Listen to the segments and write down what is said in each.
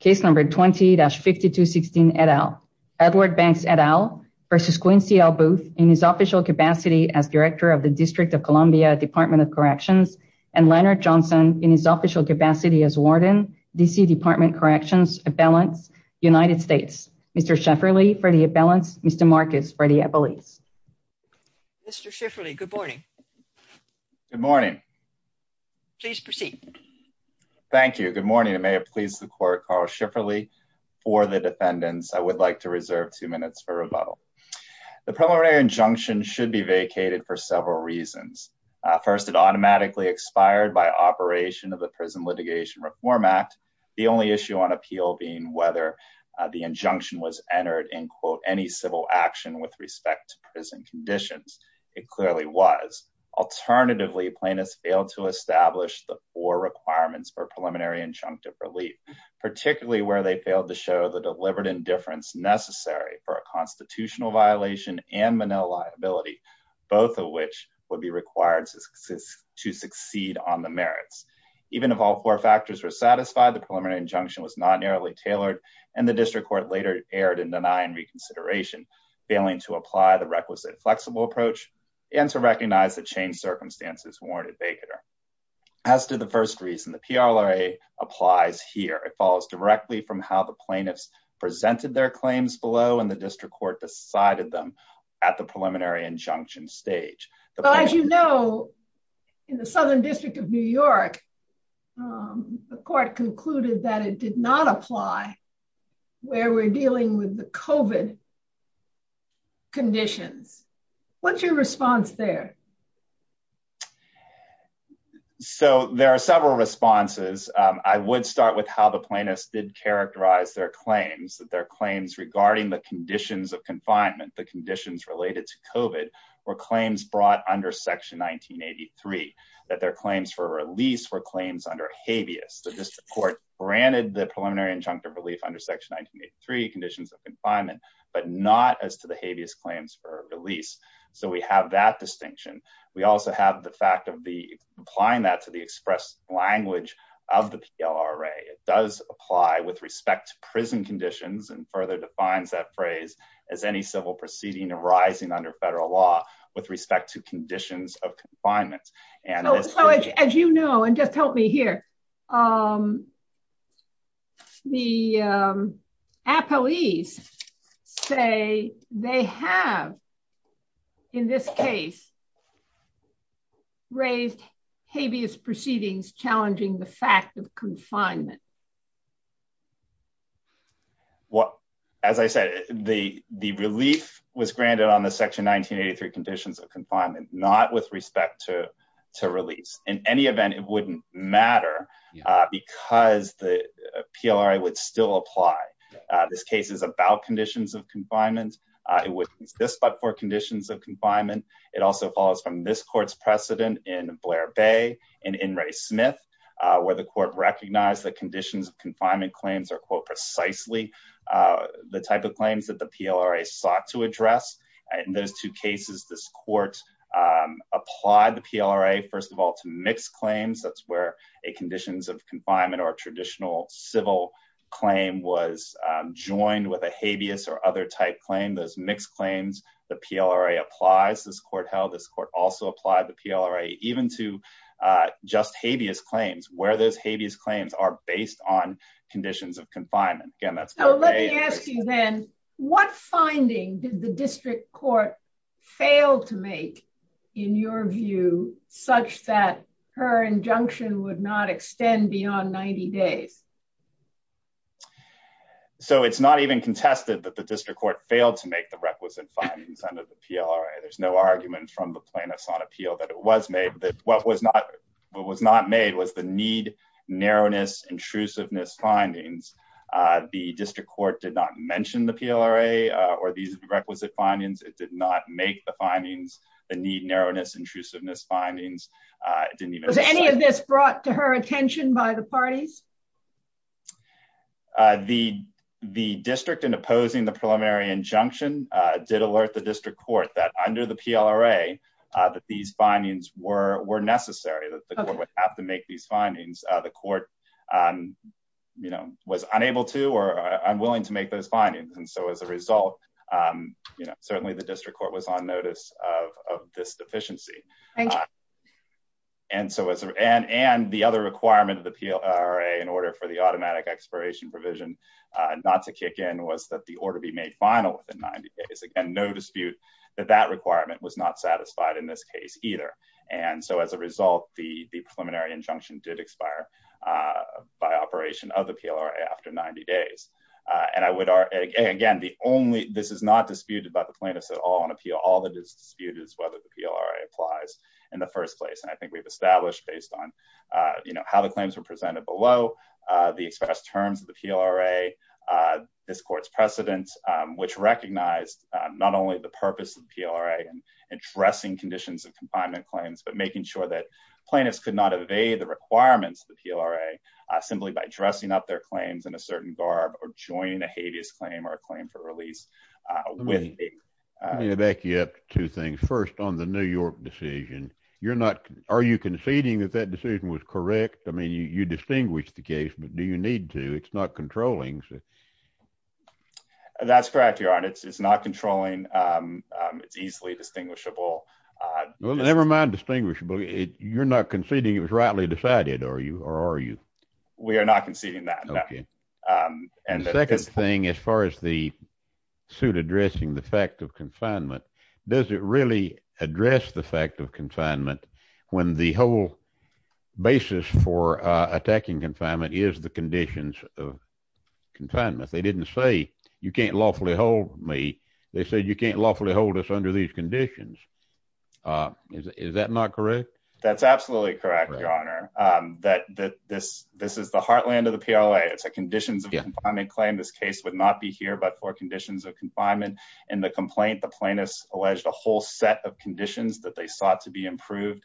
20-5216 et al. Edward Banks et al v. Quincy L. Booth in his official capacity as Director of the District of Columbia Department of Corrections and Leonard Johnson in his official capacity as Warden, D.C. Department of Corrections, Abellants, United States. Mr. Schifferle for the Abellants, Mr. Marcus for the Abellites. Mr. Schifferle, good morning. Good morning. Please proceed. Thank you. Good morning. It may have pleased the court, Carl Schifferle for the defendants. I would like to reserve two minutes for rebuttal. The preliminary injunction should be vacated for several reasons. First, it automatically expired by operation of the Prison Litigation Reform Act. The only issue on appeal being whether the injunction was entered in, quote, any civil action with respect to prison conditions. It clearly was. Alternatively, plaintiffs failed to establish the four requirements for preliminary injunctive relief, particularly where they failed to show the deliberate indifference necessary for a constitutional violation and Manil liability, both of which would be required to succeed on the merits. Even if all four factors were satisfied, the preliminary injunction was not narrowly tailored, and the district court later erred in denying reconsideration, failing to apply the requisite flexible approach and to recognize the changed circumstances warranted vacater. As to the first reason, the PLRA applies here. It follows directly from how the plaintiffs presented their claims below, and the district court decided them at the preliminary injunction stage. As you know, in the Southern District of New York, the court concluded that it did not apply where we're dealing with the COVID conditions. What's your response there? So there are several responses. I would start with how the plaintiffs did characterize their claims, that their claims regarding the conditions of confinement, the conditions related to COVID, were claims brought under Section 1983, that their claims for release were claims under habeas. The preliminary injunctive relief under Section 1983, conditions of confinement, but not as to the habeas claims for release. So we have that distinction. We also have the fact of applying that to the express language of the PLRA. It does apply with respect to prison conditions and further defines that phrase as any civil proceeding arising under federal law with respect to the appellees say they have, in this case, raised habeas proceedings challenging the fact of confinement. Well, as I said, the relief was granted on the Section 1983 conditions of confinement, not with respect to release. In any event, it wouldn't matter because the PLRA would still apply. This case is about conditions of confinement. It was this but for conditions of confinement. It also follows from this court's precedent in Blair Bay and in Ray Smith, where the court recognized the conditions of confinement claims are quote precisely the type of claims that the court applied the PLRA, first of all, to mixed claims. That's where a conditions of confinement or a traditional civil claim was joined with a habeas or other type claim. Those mixed claims, the PLRA applies. This court held this court also applied the PLRA even to just habeas claims, where those habeas claims are based on conditions of confinement. Again, that's- Let me ask you then, what finding did the district court fail to make, in your view, such that her injunction would not extend beyond 90 days? It's not even contested that the district court failed to make the requisite findings under the PLRA. There's no argument from the plaintiffs on appeal that it was made. What was not made was the need, narrowness, intrusiveness findings. The district court did not mention the PLRA or these requisite findings. It did not make the findings, the need, narrowness, intrusiveness findings. It didn't even- Was any of this brought to her attention by the parties? The district in opposing the preliminary injunction did alert the district court that under the PLRA, that these findings were necessary, that the court would have to make these findings. The court was unable to, or unwilling to make those findings. As a result, certainly the district court was on notice of this deficiency. Thank you. And the other requirement of the PLRA in order for the automatic expiration provision not to kick in was that the order be made final within 90 days. Again, that requirement was not satisfied in this case either. As a result, the preliminary injunction did expire by operation of the PLRA after 90 days. Again, this is not disputed by the plaintiffs at all on appeal. All that is disputed is whether the PLRA applies in the first place. I think we've established based on how the claims were presented below, the expressed terms of the PLRA, this court's precedent, which recognized not only the purpose of the PLRA and addressing conditions of confinement claims, but making sure that plaintiffs could not evade the requirements of the PLRA simply by dressing up their claims in a certain garb or joining a habeas claim or a claim for release with- Let me back you up two things. First, on the New York decision, are you conceding that that decision was correct? I mean, you distinguish the case, but do you need to? It's not controlling. That's correct, Your Honor. It's not controlling. It's easily distinguishable. Well, never mind distinguishable. You're not conceding it was rightly decided, or are you? We are not conceding that, no. The second thing, as far as the suit addressing the fact of confinement, does it really address the fact of confinement when the whole basis for attacking confinement is the conditions of confinement? They didn't say, you can't lawfully hold me. They said, you can't lawfully hold us under these conditions. Is that not correct? That's absolutely correct, Your Honor. This is the heartland of the PLRA. It's a conditions of confinement claim. This case would not be here but for conditions of confinement. In the complaint, the plaintiffs alleged a whole set of conditions that they sought to be improved.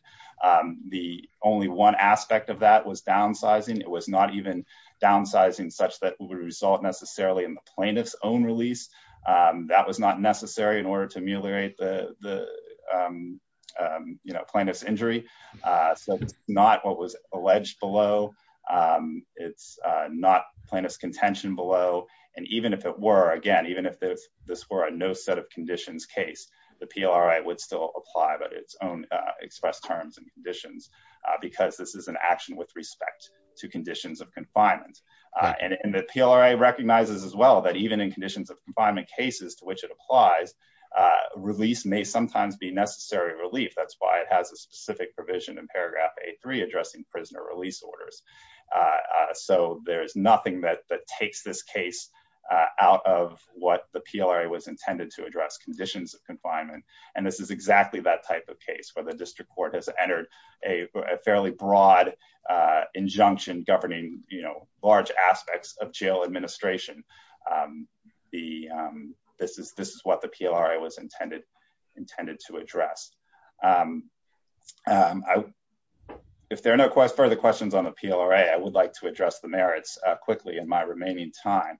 The only one aspect of that was downsizing. It was not even downsizing such that it would result necessarily in the plaintiff's own release. That was not necessary in order to ameliorate the plaintiff's injury. So it's not what was alleged below. It's not plaintiff's contention below. And even if it the PLRA would still apply its own express terms and conditions because this is an action with respect to conditions of confinement. And the PLRA recognizes as well that even in conditions of confinement cases to which it applies, release may sometimes be necessary relief. That's why it has a specific provision in paragraph A3 addressing prisoner release orders. So there's nothing that and this is exactly that type of case where the district court has entered a fairly broad injunction governing large aspects of jail administration. This is what the PLRA was intended to address. If there are no further questions on the PLRA, I would like to address the merits quickly in my remaining time.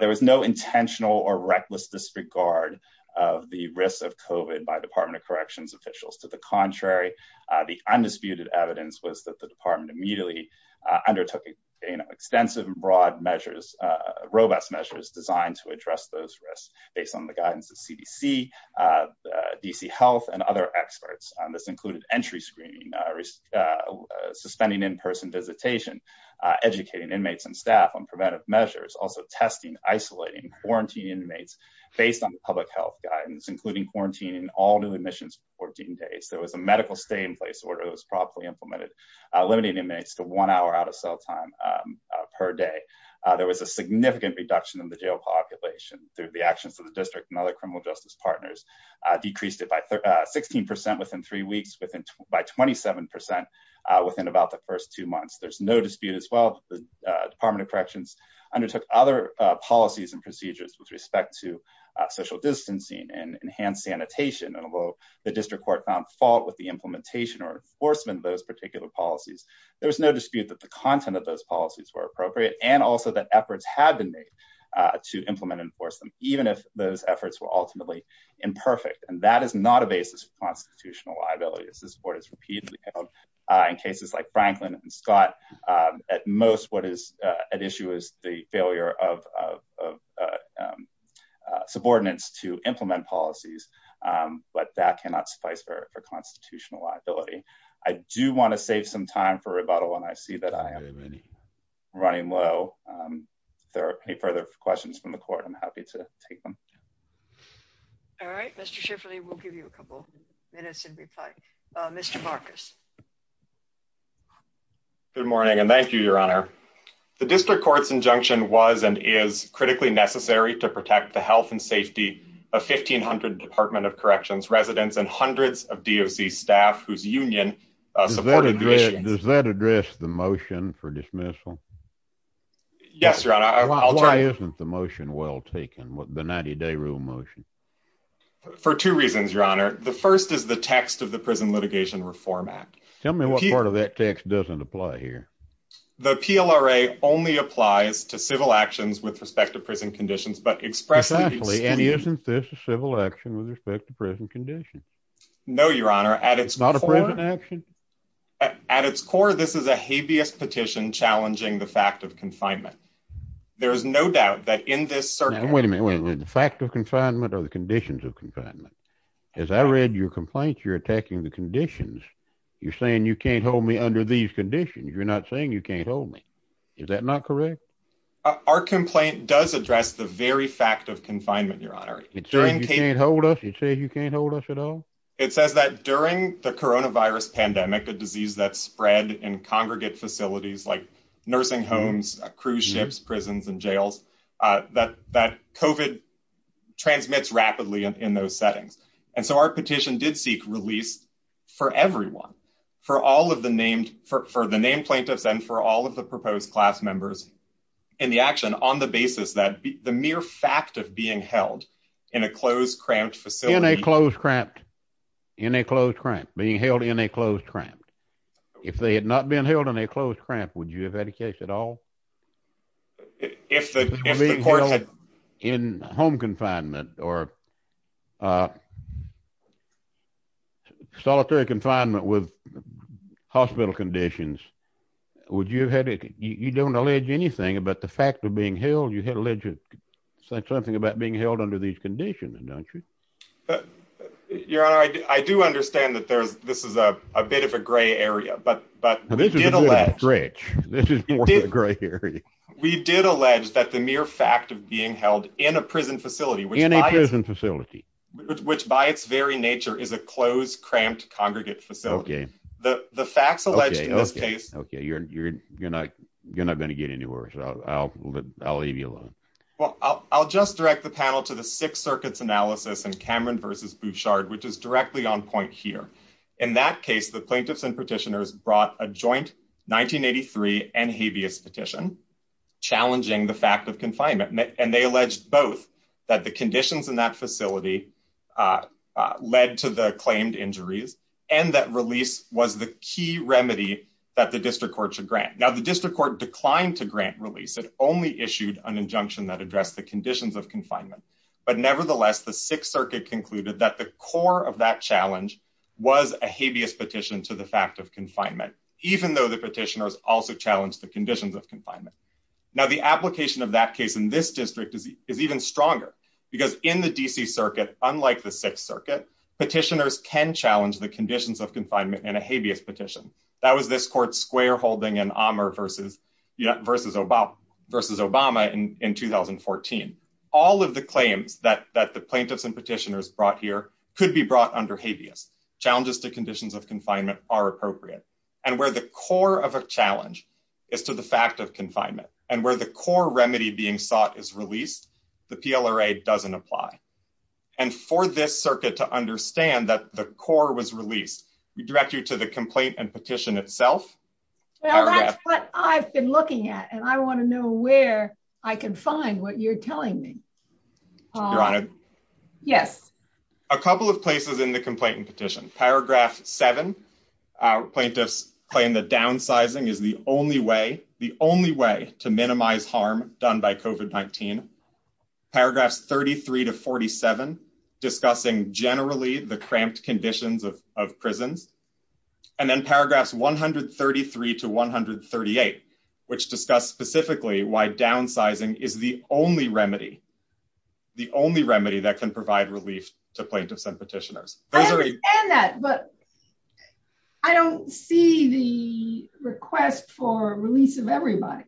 There was no intentional or reckless disregard of the risks of COVID by Department of Corrections officials. To the contrary, the undisputed evidence was that the department immediately undertook extensive and broad measures, robust measures designed to address those risks based on the guidance of CDC, DC Health and other experts. This included entry screening, suspending in-person visitation, educating inmates and staff on preventive measures, also testing, isolating, quarantining inmates based on public health guidance, including quarantining all new admissions for 14 days. There was a medical stay-in-place order that was properly implemented, limiting inmates to one hour out of cell time per day. There was a significant reduction in the jail population through the actions of the district and other criminal justice partners, decreased it by 16% within three weeks by 27% within the first two months. There is no dispute that the Department of Corrections undertook other policies and procedures with respect to social distancing and enhanced sanitation. Although the district court found fault with the implementation or enforcement of those particular policies, there was no dispute that the content of those policies were appropriate and also that efforts had been made to implement and enforce them, even if those were not in the case of constitutional liability. This court has repeatedly held in cases like Franklin and Scott, at most what is at issue is the failure of subordinates to implement policies, but that cannot suffice for constitutional liability. I do want to save some time for rebuttal, and I see that I am running low. If there are any further questions from the audience, I will be available. Mr. Marcus. Good morning, and thank you, Your Honor. The district court's injunction was and is critically necessary to protect the health and safety of 1,500 Department of Corrections residents and hundreds of DOC staff whose union supported the issue. Does that address the motion for dismissal? Yes, Your Honor. Why isn't the motion well taken, the 90-day rule motion? For two reasons, Your Honor. The first is the text of the Prison Litigation Reform Act. Tell me what part of that text doesn't apply here. The PLRA only applies to civil actions with respect to prison conditions, but expressively. Exactly, and isn't this a civil action with respect to prison conditions? No, Your Honor. At its core... It's not a prison action? At its core, this is a habeas petition challenging the fact of confinement. There is no doubt that in this... Wait a minute. The fact of confinement or the conditions of confinement? As I read your complaint, you're attacking the conditions. You're saying you can't hold me under these conditions. You're not saying you can't hold me. Is that not correct? Our complaint does address the very fact of confinement, Your Honor. It says you can't hold us? It says you can't hold us at all? It says that during the coronavirus pandemic, a disease that spread in congregate facilities like COVID transmits rapidly in those settings. And so our petition did seek release for everyone. For all of the named plaintiffs and for all of the proposed class members in the action on the basis that the mere fact of being held in a closed, cramped facility... In a closed, cramped... In a closed, cramped... Being held in a closed, cramped... If they had not been held in a closed, cramped, would you have had a case at all? If the courts had... In home confinement or solitary confinement with hospital conditions, would you have had a... You don't allege anything about the fact of being held. You had alleged something about being held under these conditions, don't you? Your Honor, I do understand that this is a bit of a gray area, but we did allege... This is a bit of a stretch. This is more of a gray area. We did allege that the mere fact of being held in a prison facility... In a prison facility. Which by its very nature is a closed, cramped, congregate facility. The facts alleged in this case... Okay, you're not going to get anywhere, so I'll leave you alone. Well, I'll just direct the panel to the Sixth Circuit's analysis in Cameron versus Bouchard, which is directly on point here. In that case, the plaintiffs and petitioners brought a joint 1983 and habeas petition. Challenging the fact of confinement. And they alleged both. That the conditions in that facility led to the claimed injuries. And that release was the key remedy that the district court should grant. Now, the district court declined to grant release. It only issued an injunction that addressed the conditions of confinement. But nevertheless, the Sixth Circuit concluded that the core of that challenge was a habeas petition to the fact of confinement. Even though the petitioners also challenged the conditions of confinement. Now, the application of that case in this district is even stronger. Because in the D.C. Circuit, unlike the Sixth Circuit, petitioners can challenge the conditions of confinement in a habeas petition. That was this court's square holding in Amherst versus Obama in 2014. All of the claims that the plaintiffs and petitioners brought here could be brought under habeas. Challenges to conditions of confinement are appropriate. And where the core of a challenge is to the fact of confinement. And where the core remedy being sought is released. The PLRA doesn't apply. And for this circuit to understand that the core was released. We direct you to the complaint and petition itself. Well, that's what I've been looking at. And I want to know where I can find what you're telling me. Your Honor. Yes. A couple of places in the complaint and petition. Paragraph 7. Plaintiffs claim that downsizing is the only way. The only way to minimize harm done by COVID-19. Paragraphs 33 to 47. Discussing generally the cramped conditions of prisons. And then paragraphs 133 to 138. Which discuss specifically why downsizing is the only remedy. The only remedy that can provide relief to plaintiffs and petitioners. I understand that. But I don't see the request for release of everybody.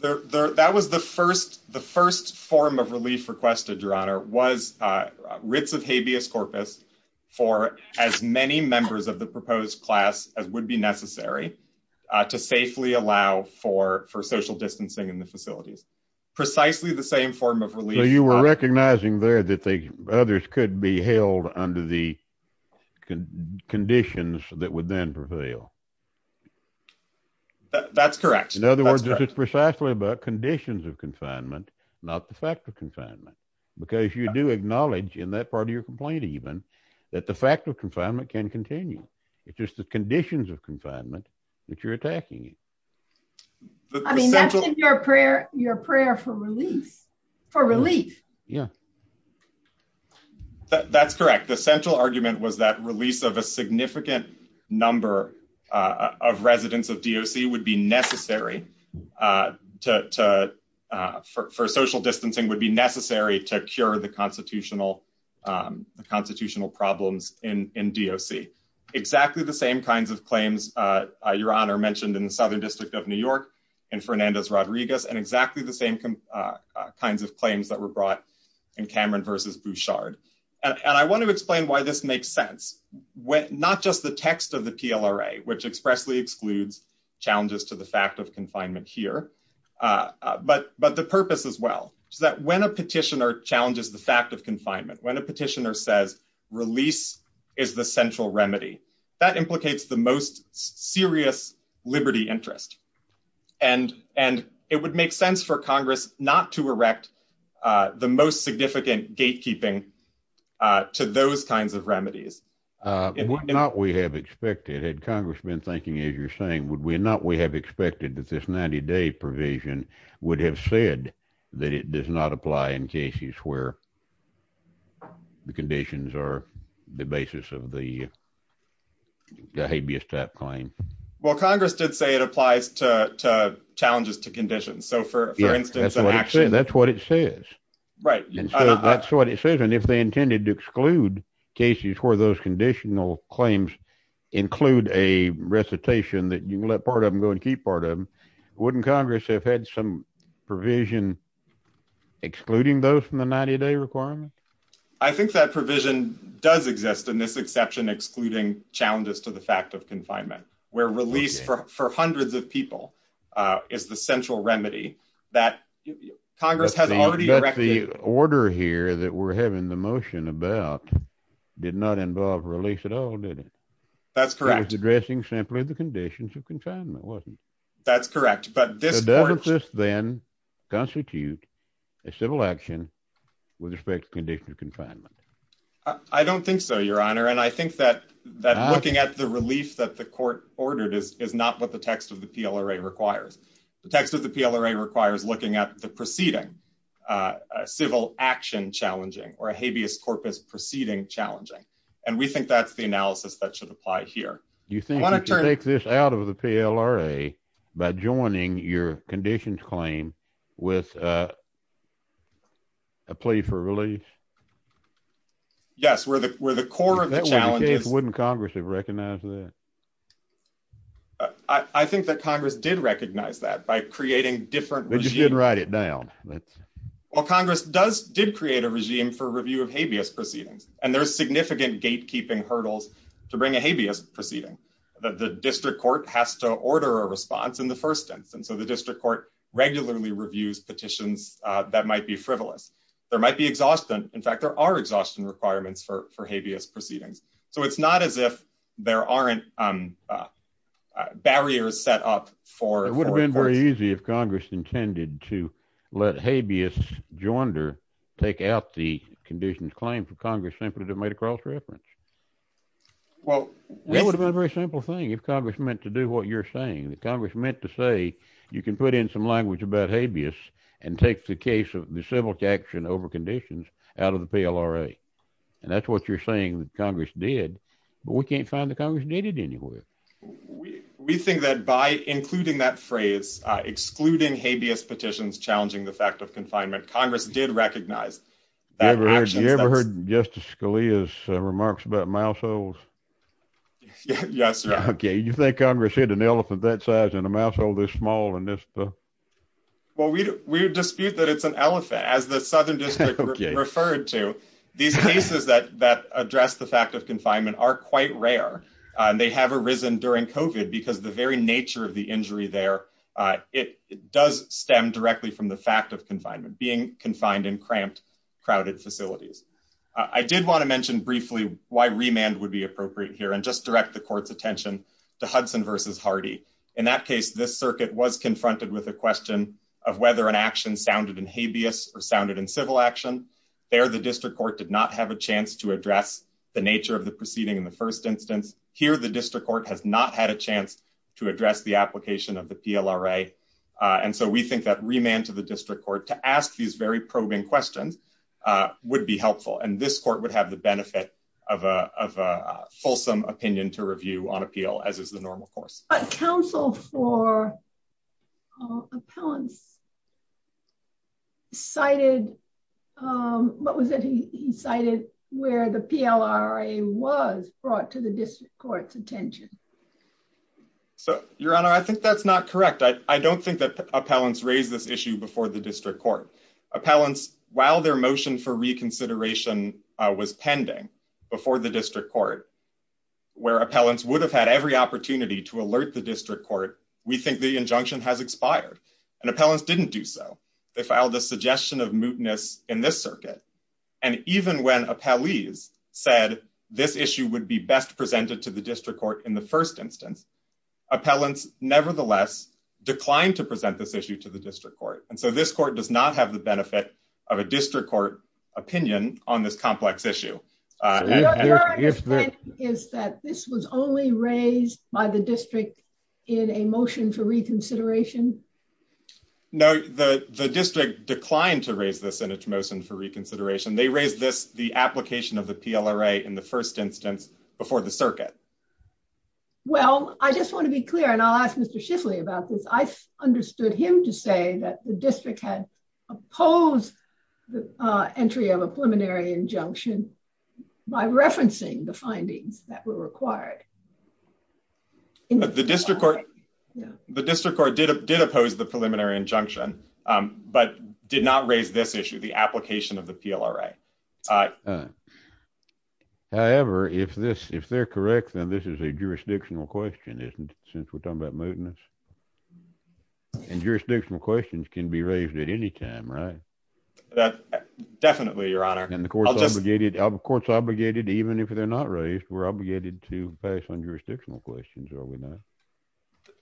That was the first form of relief requested, Your Honor. Was writs of habeas corpus. For as many members of the proposed class as would be necessary. To safely allow for social distancing in the facilities. Precisely the same form of relief. You were recognizing there that others could be held under the conditions that would then prevail. That's correct. In other words, this is precisely about conditions of confinement. Not the fact of confinement. Because you do acknowledge in that part of your complaint even. That the fact of confinement can continue. It's just the conditions of confinement that you're attacking. I mean, that's in your prayer for relief. For relief. Yeah. That's correct. The central argument was that release of a significant number of residents of DOC. Would be necessary for social distancing. Would be necessary to cure the constitutional problems in DOC. Exactly the same kinds of claims, Your Honor. Mentioned in the Southern District of New York. And Fernandez Rodriguez. And exactly the same kinds of claims that were brought in Cameron versus Bouchard. And I want to explain why this makes sense. Not just the text of the PLRA. Which expressly excludes challenges to the fact of confinement here. But the purpose as well. So that when a petitioner challenges the fact of confinement. When a petitioner says release is the central remedy. That implicates the most serious liberty interest. And it would make sense for Congress not to erect. The most significant gatekeeping to those kinds of remedies. Would not we have expected. Had Congress been thinking as you're saying. Would we not we have expected that this 90-day provision. Would have said that it does not apply in cases where. The conditions are the basis of the. The habeas type claim. Well, Congress did say it applies to challenges to conditions. So for instance, that's what it says. Right. That's what it says. And if they intended to exclude cases where those conditional claims. Include a recitation that you let part of them go and keep part of them. Wouldn't Congress have had some provision. Excluding those from the 90-day requirement. I think that provision does exist in this exception. Excluding challenges to the fact of confinement. Where release for hundreds of people is the central remedy. That Congress has already. The order here that we're having the motion about. Did not involve release at all, did it? That's correct. Addressing simply the conditions of confinement wasn't. That's correct. Doesn't this then constitute a civil action. With respect to condition of confinement. I don't think so, your honor. And I think that looking at the relief that the court. Ordered is not what the text of the PLRA requires. The text of the PLRA requires looking at the proceeding. Civil action challenging or a habeas corpus proceeding challenging. And we think that's the analysis that should apply here. You think you can take this out of the PLRA. By joining your conditions claim with. A plea for relief. Yes, we're the core of the challenges. Wouldn't Congress have recognized that? I think that Congress did recognize that by creating different. They just didn't write it down. Well, Congress does did create a regime for review of habeas proceedings. And there's significant gatekeeping hurdles to bring a habeas proceeding. That the district court has to order a response in the 1st instance. So the district court regularly reviews petitions that might be frivolous. There might be exhaustion. In fact, there are exhaustion requirements for habeas proceedings. So it's not as if there aren't. Barriers set up for it would have been very easy. If Congress intended to let habeas. Joinder take out the conditions claim for Congress simply to make a cross reference. Well, that would be a very simple thing. If Congress meant to do what you're saying that Congress meant to say. You can put in some language about habeas. And take the case of the civil action over conditions out of the PLRA. And that's what you're saying that Congress did. But we can't find the Congress needed anywhere. We think that by including that phrase. Excluding habeas petitions. Challenging the fact of confinement. Congress did recognize that. Have you ever heard Justice Scalia's remarks about mouse holes? Yes, sir. Okay. You think Congress hit an elephant that size. And a mouse hole this small. Well, we dispute that it's an elephant. As the southern district referred to. These cases that address the fact of confinement are quite rare. And they have arisen during COVID. Because the very nature of the injury there. It does stem directly from the fact of confinement. Being confined in cramped, crowded facilities. I did want to mention briefly why remand would be appropriate here. And just direct the court's attention to Hudson versus Hardy. In that case, this circuit was confronted with a question. Of whether an action sounded in habeas. Or sounded in civil action. There the district court did not have a chance to address. The nature of the proceeding in the first instance. Here the district court has not had a chance. To address the application of the PLRA. And so we think that remand to the district court. To ask these very probing questions. Would be helpful. And this court would have the benefit. Of a fulsome opinion to review on appeal. As is the normal course. But counsel for appellants cited. What was it he cited? Where the PLRA was brought to the district court's attention. So your honor, I think that's not correct. I don't think that appellants raised this issue before the district court. Appellants, while their motion for reconsideration was pending. Before the district court. Where appellants would have had every opportunity. To alert the district court. We think the injunction has expired. And appellants didn't do so. They filed a suggestion of mootness in this circuit. And even when appellees said. This issue would be best presented to the district court. In the first instance. Appellants nevertheless declined. To present this issue to the district court. And so this court does not have the benefit. Of a district court opinion on this complex issue. Is that this was only raised by the district. In a motion for reconsideration. No, the district declined to raise this. In a motion for reconsideration. They raised this the application of the PLRA. In the first instance before the circuit. Well, I just want to be clear. And I'll ask Mr Schiffley about this. I understood him to say that the district had. Opposed the entry of a preliminary injunction. By referencing the findings that were required. The district court. The district court did. Did oppose the preliminary injunction. But did not raise this issue. The application of the PLRA. However, if this if they're correct. Then this is a jurisdictional question. Isn't since we're talking about mootness. And jurisdictional questions. Can be raised at any time, right? That definitely your honor. And the courts obligated. Of course, obligated. Even if they're not raised. We're obligated to pass on jurisdictional questions. Are we not?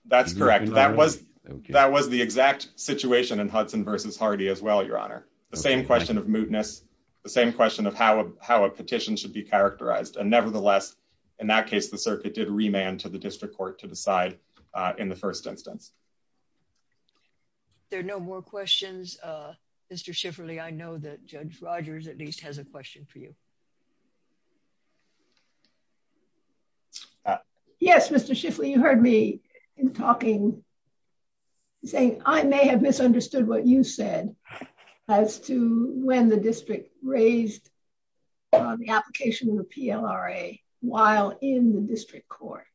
That's correct. That was that was the exact situation. And Hudson versus Hardy as well. Your honor. The same question of mootness. The same question of how. How a petition should be characterized. And nevertheless, in that case. The circuit did remand to the district court. To decide in the first instance. There are no more questions. Mr Schifferly. I know that Judge Rogers. At least has a question for you. Yes, Mr Schiffley. You heard me talking. Saying I may have misunderstood what you said. As to when the district raised. The application of the PLRA. While in the district court.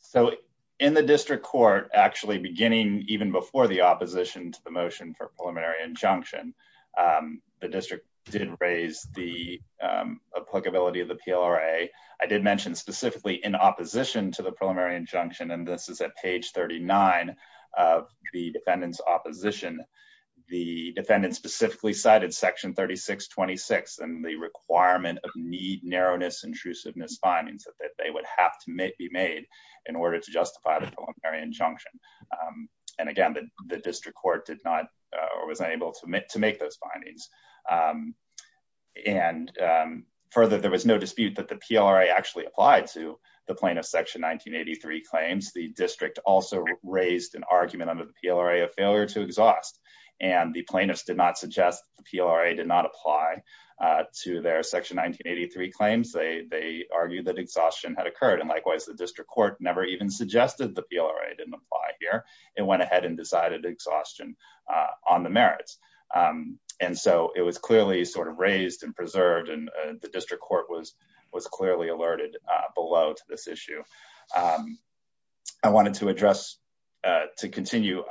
So in the district court. Actually beginning even before the opposition. To the motion for preliminary injunction. The district did raise the. Applicability of the PLRA. I did mention specifically in opposition. To the preliminary injunction. And this is at page 39 of the defendant's opposition. The defendant specifically cited section 3626. And the requirement of need. Narrowness intrusiveness findings. That they would have to make be made. In order to justify the preliminary injunction. And again, the district court did not. Or was unable to make those findings. And further, there was no dispute. That the PLRA actually applied. To the plaintiff's section 1983 claims. The district also raised an argument. Under the PLRA of failure to exhaust. And the plaintiffs did not suggest. The PLRA did not apply. To their section 1983 claims. They argued that exhaustion had occurred. And likewise, the district court. Never even suggested the PLRA didn't apply here. It went ahead and decided exhaustion. On the merits. And so it was clearly sort of raised. And preserved. And the district court was clearly alerted. Below to this issue. I wanted to address. To continue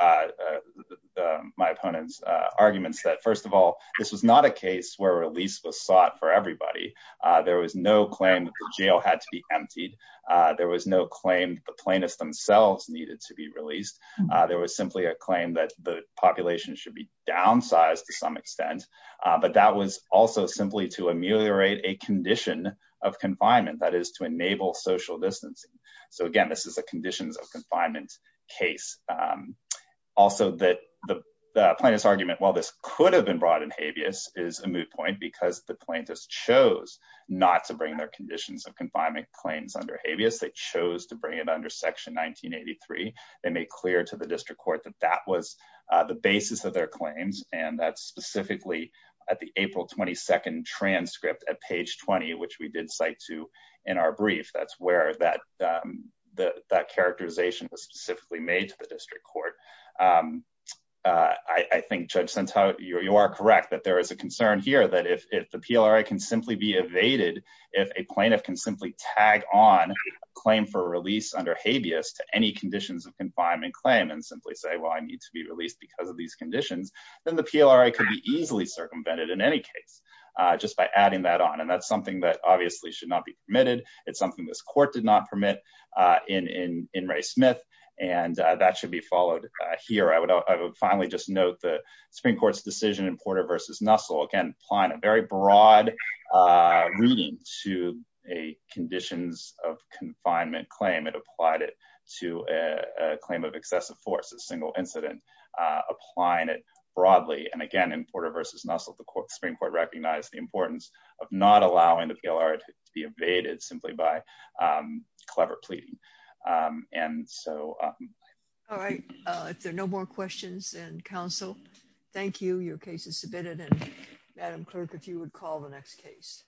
my opponent's arguments. That first of all, this was not a case. Where a lease was sought for everybody. There was no claim that the jail had to be emptied. There was no claim. The plaintiffs themselves needed to be released. There was simply a claim. That the population should be downsized to some extent. But that was also simply to ameliorate. A condition of confinement. That is to enable social distancing. So again, this is a conditions of confinement case. Also that the plaintiff's argument. While this could have been brought in habeas. Is a moot point. Because the plaintiffs chose. Not to bring their conditions of confinement. Claims under habeas. They chose to bring it under section 1983. They made clear to the district court. That that was the basis of their claims. And that specifically. At the April 22nd transcript. At page 20. Which we did cite to in our brief. That's where that characterization. Was specifically made to the district court. I think Judge Sentau, you are correct. That there is a concern here. That if the PLRA can simply be evaded. If a plaintiff can simply tag on. Claim for release under habeas. To any conditions of confinement claim. And simply say, well I need to be released. Because of these conditions. Then the PLRA could be easily circumvented. In any case. Just by adding that on. And that's something that obviously. Should not be permitted. It's something this court did not permit. In Ray Smith. And that should be followed here. I would finally just note. The Supreme Court's decision. In Porter versus Nussel. Again applying a very broad. Reading to a conditions of confinement claim. It applied it to a claim of excessive force. A single incident. Applying it broadly. And again in Porter versus Nussel. The Supreme Court recognized the importance. Of not allowing the PLRA to be evaded. Simply by clever pleading. And so. All right. If there are no more questions. And counsel. Thank you. Your case is submitted. And Madam Clerk. If you would call the next case.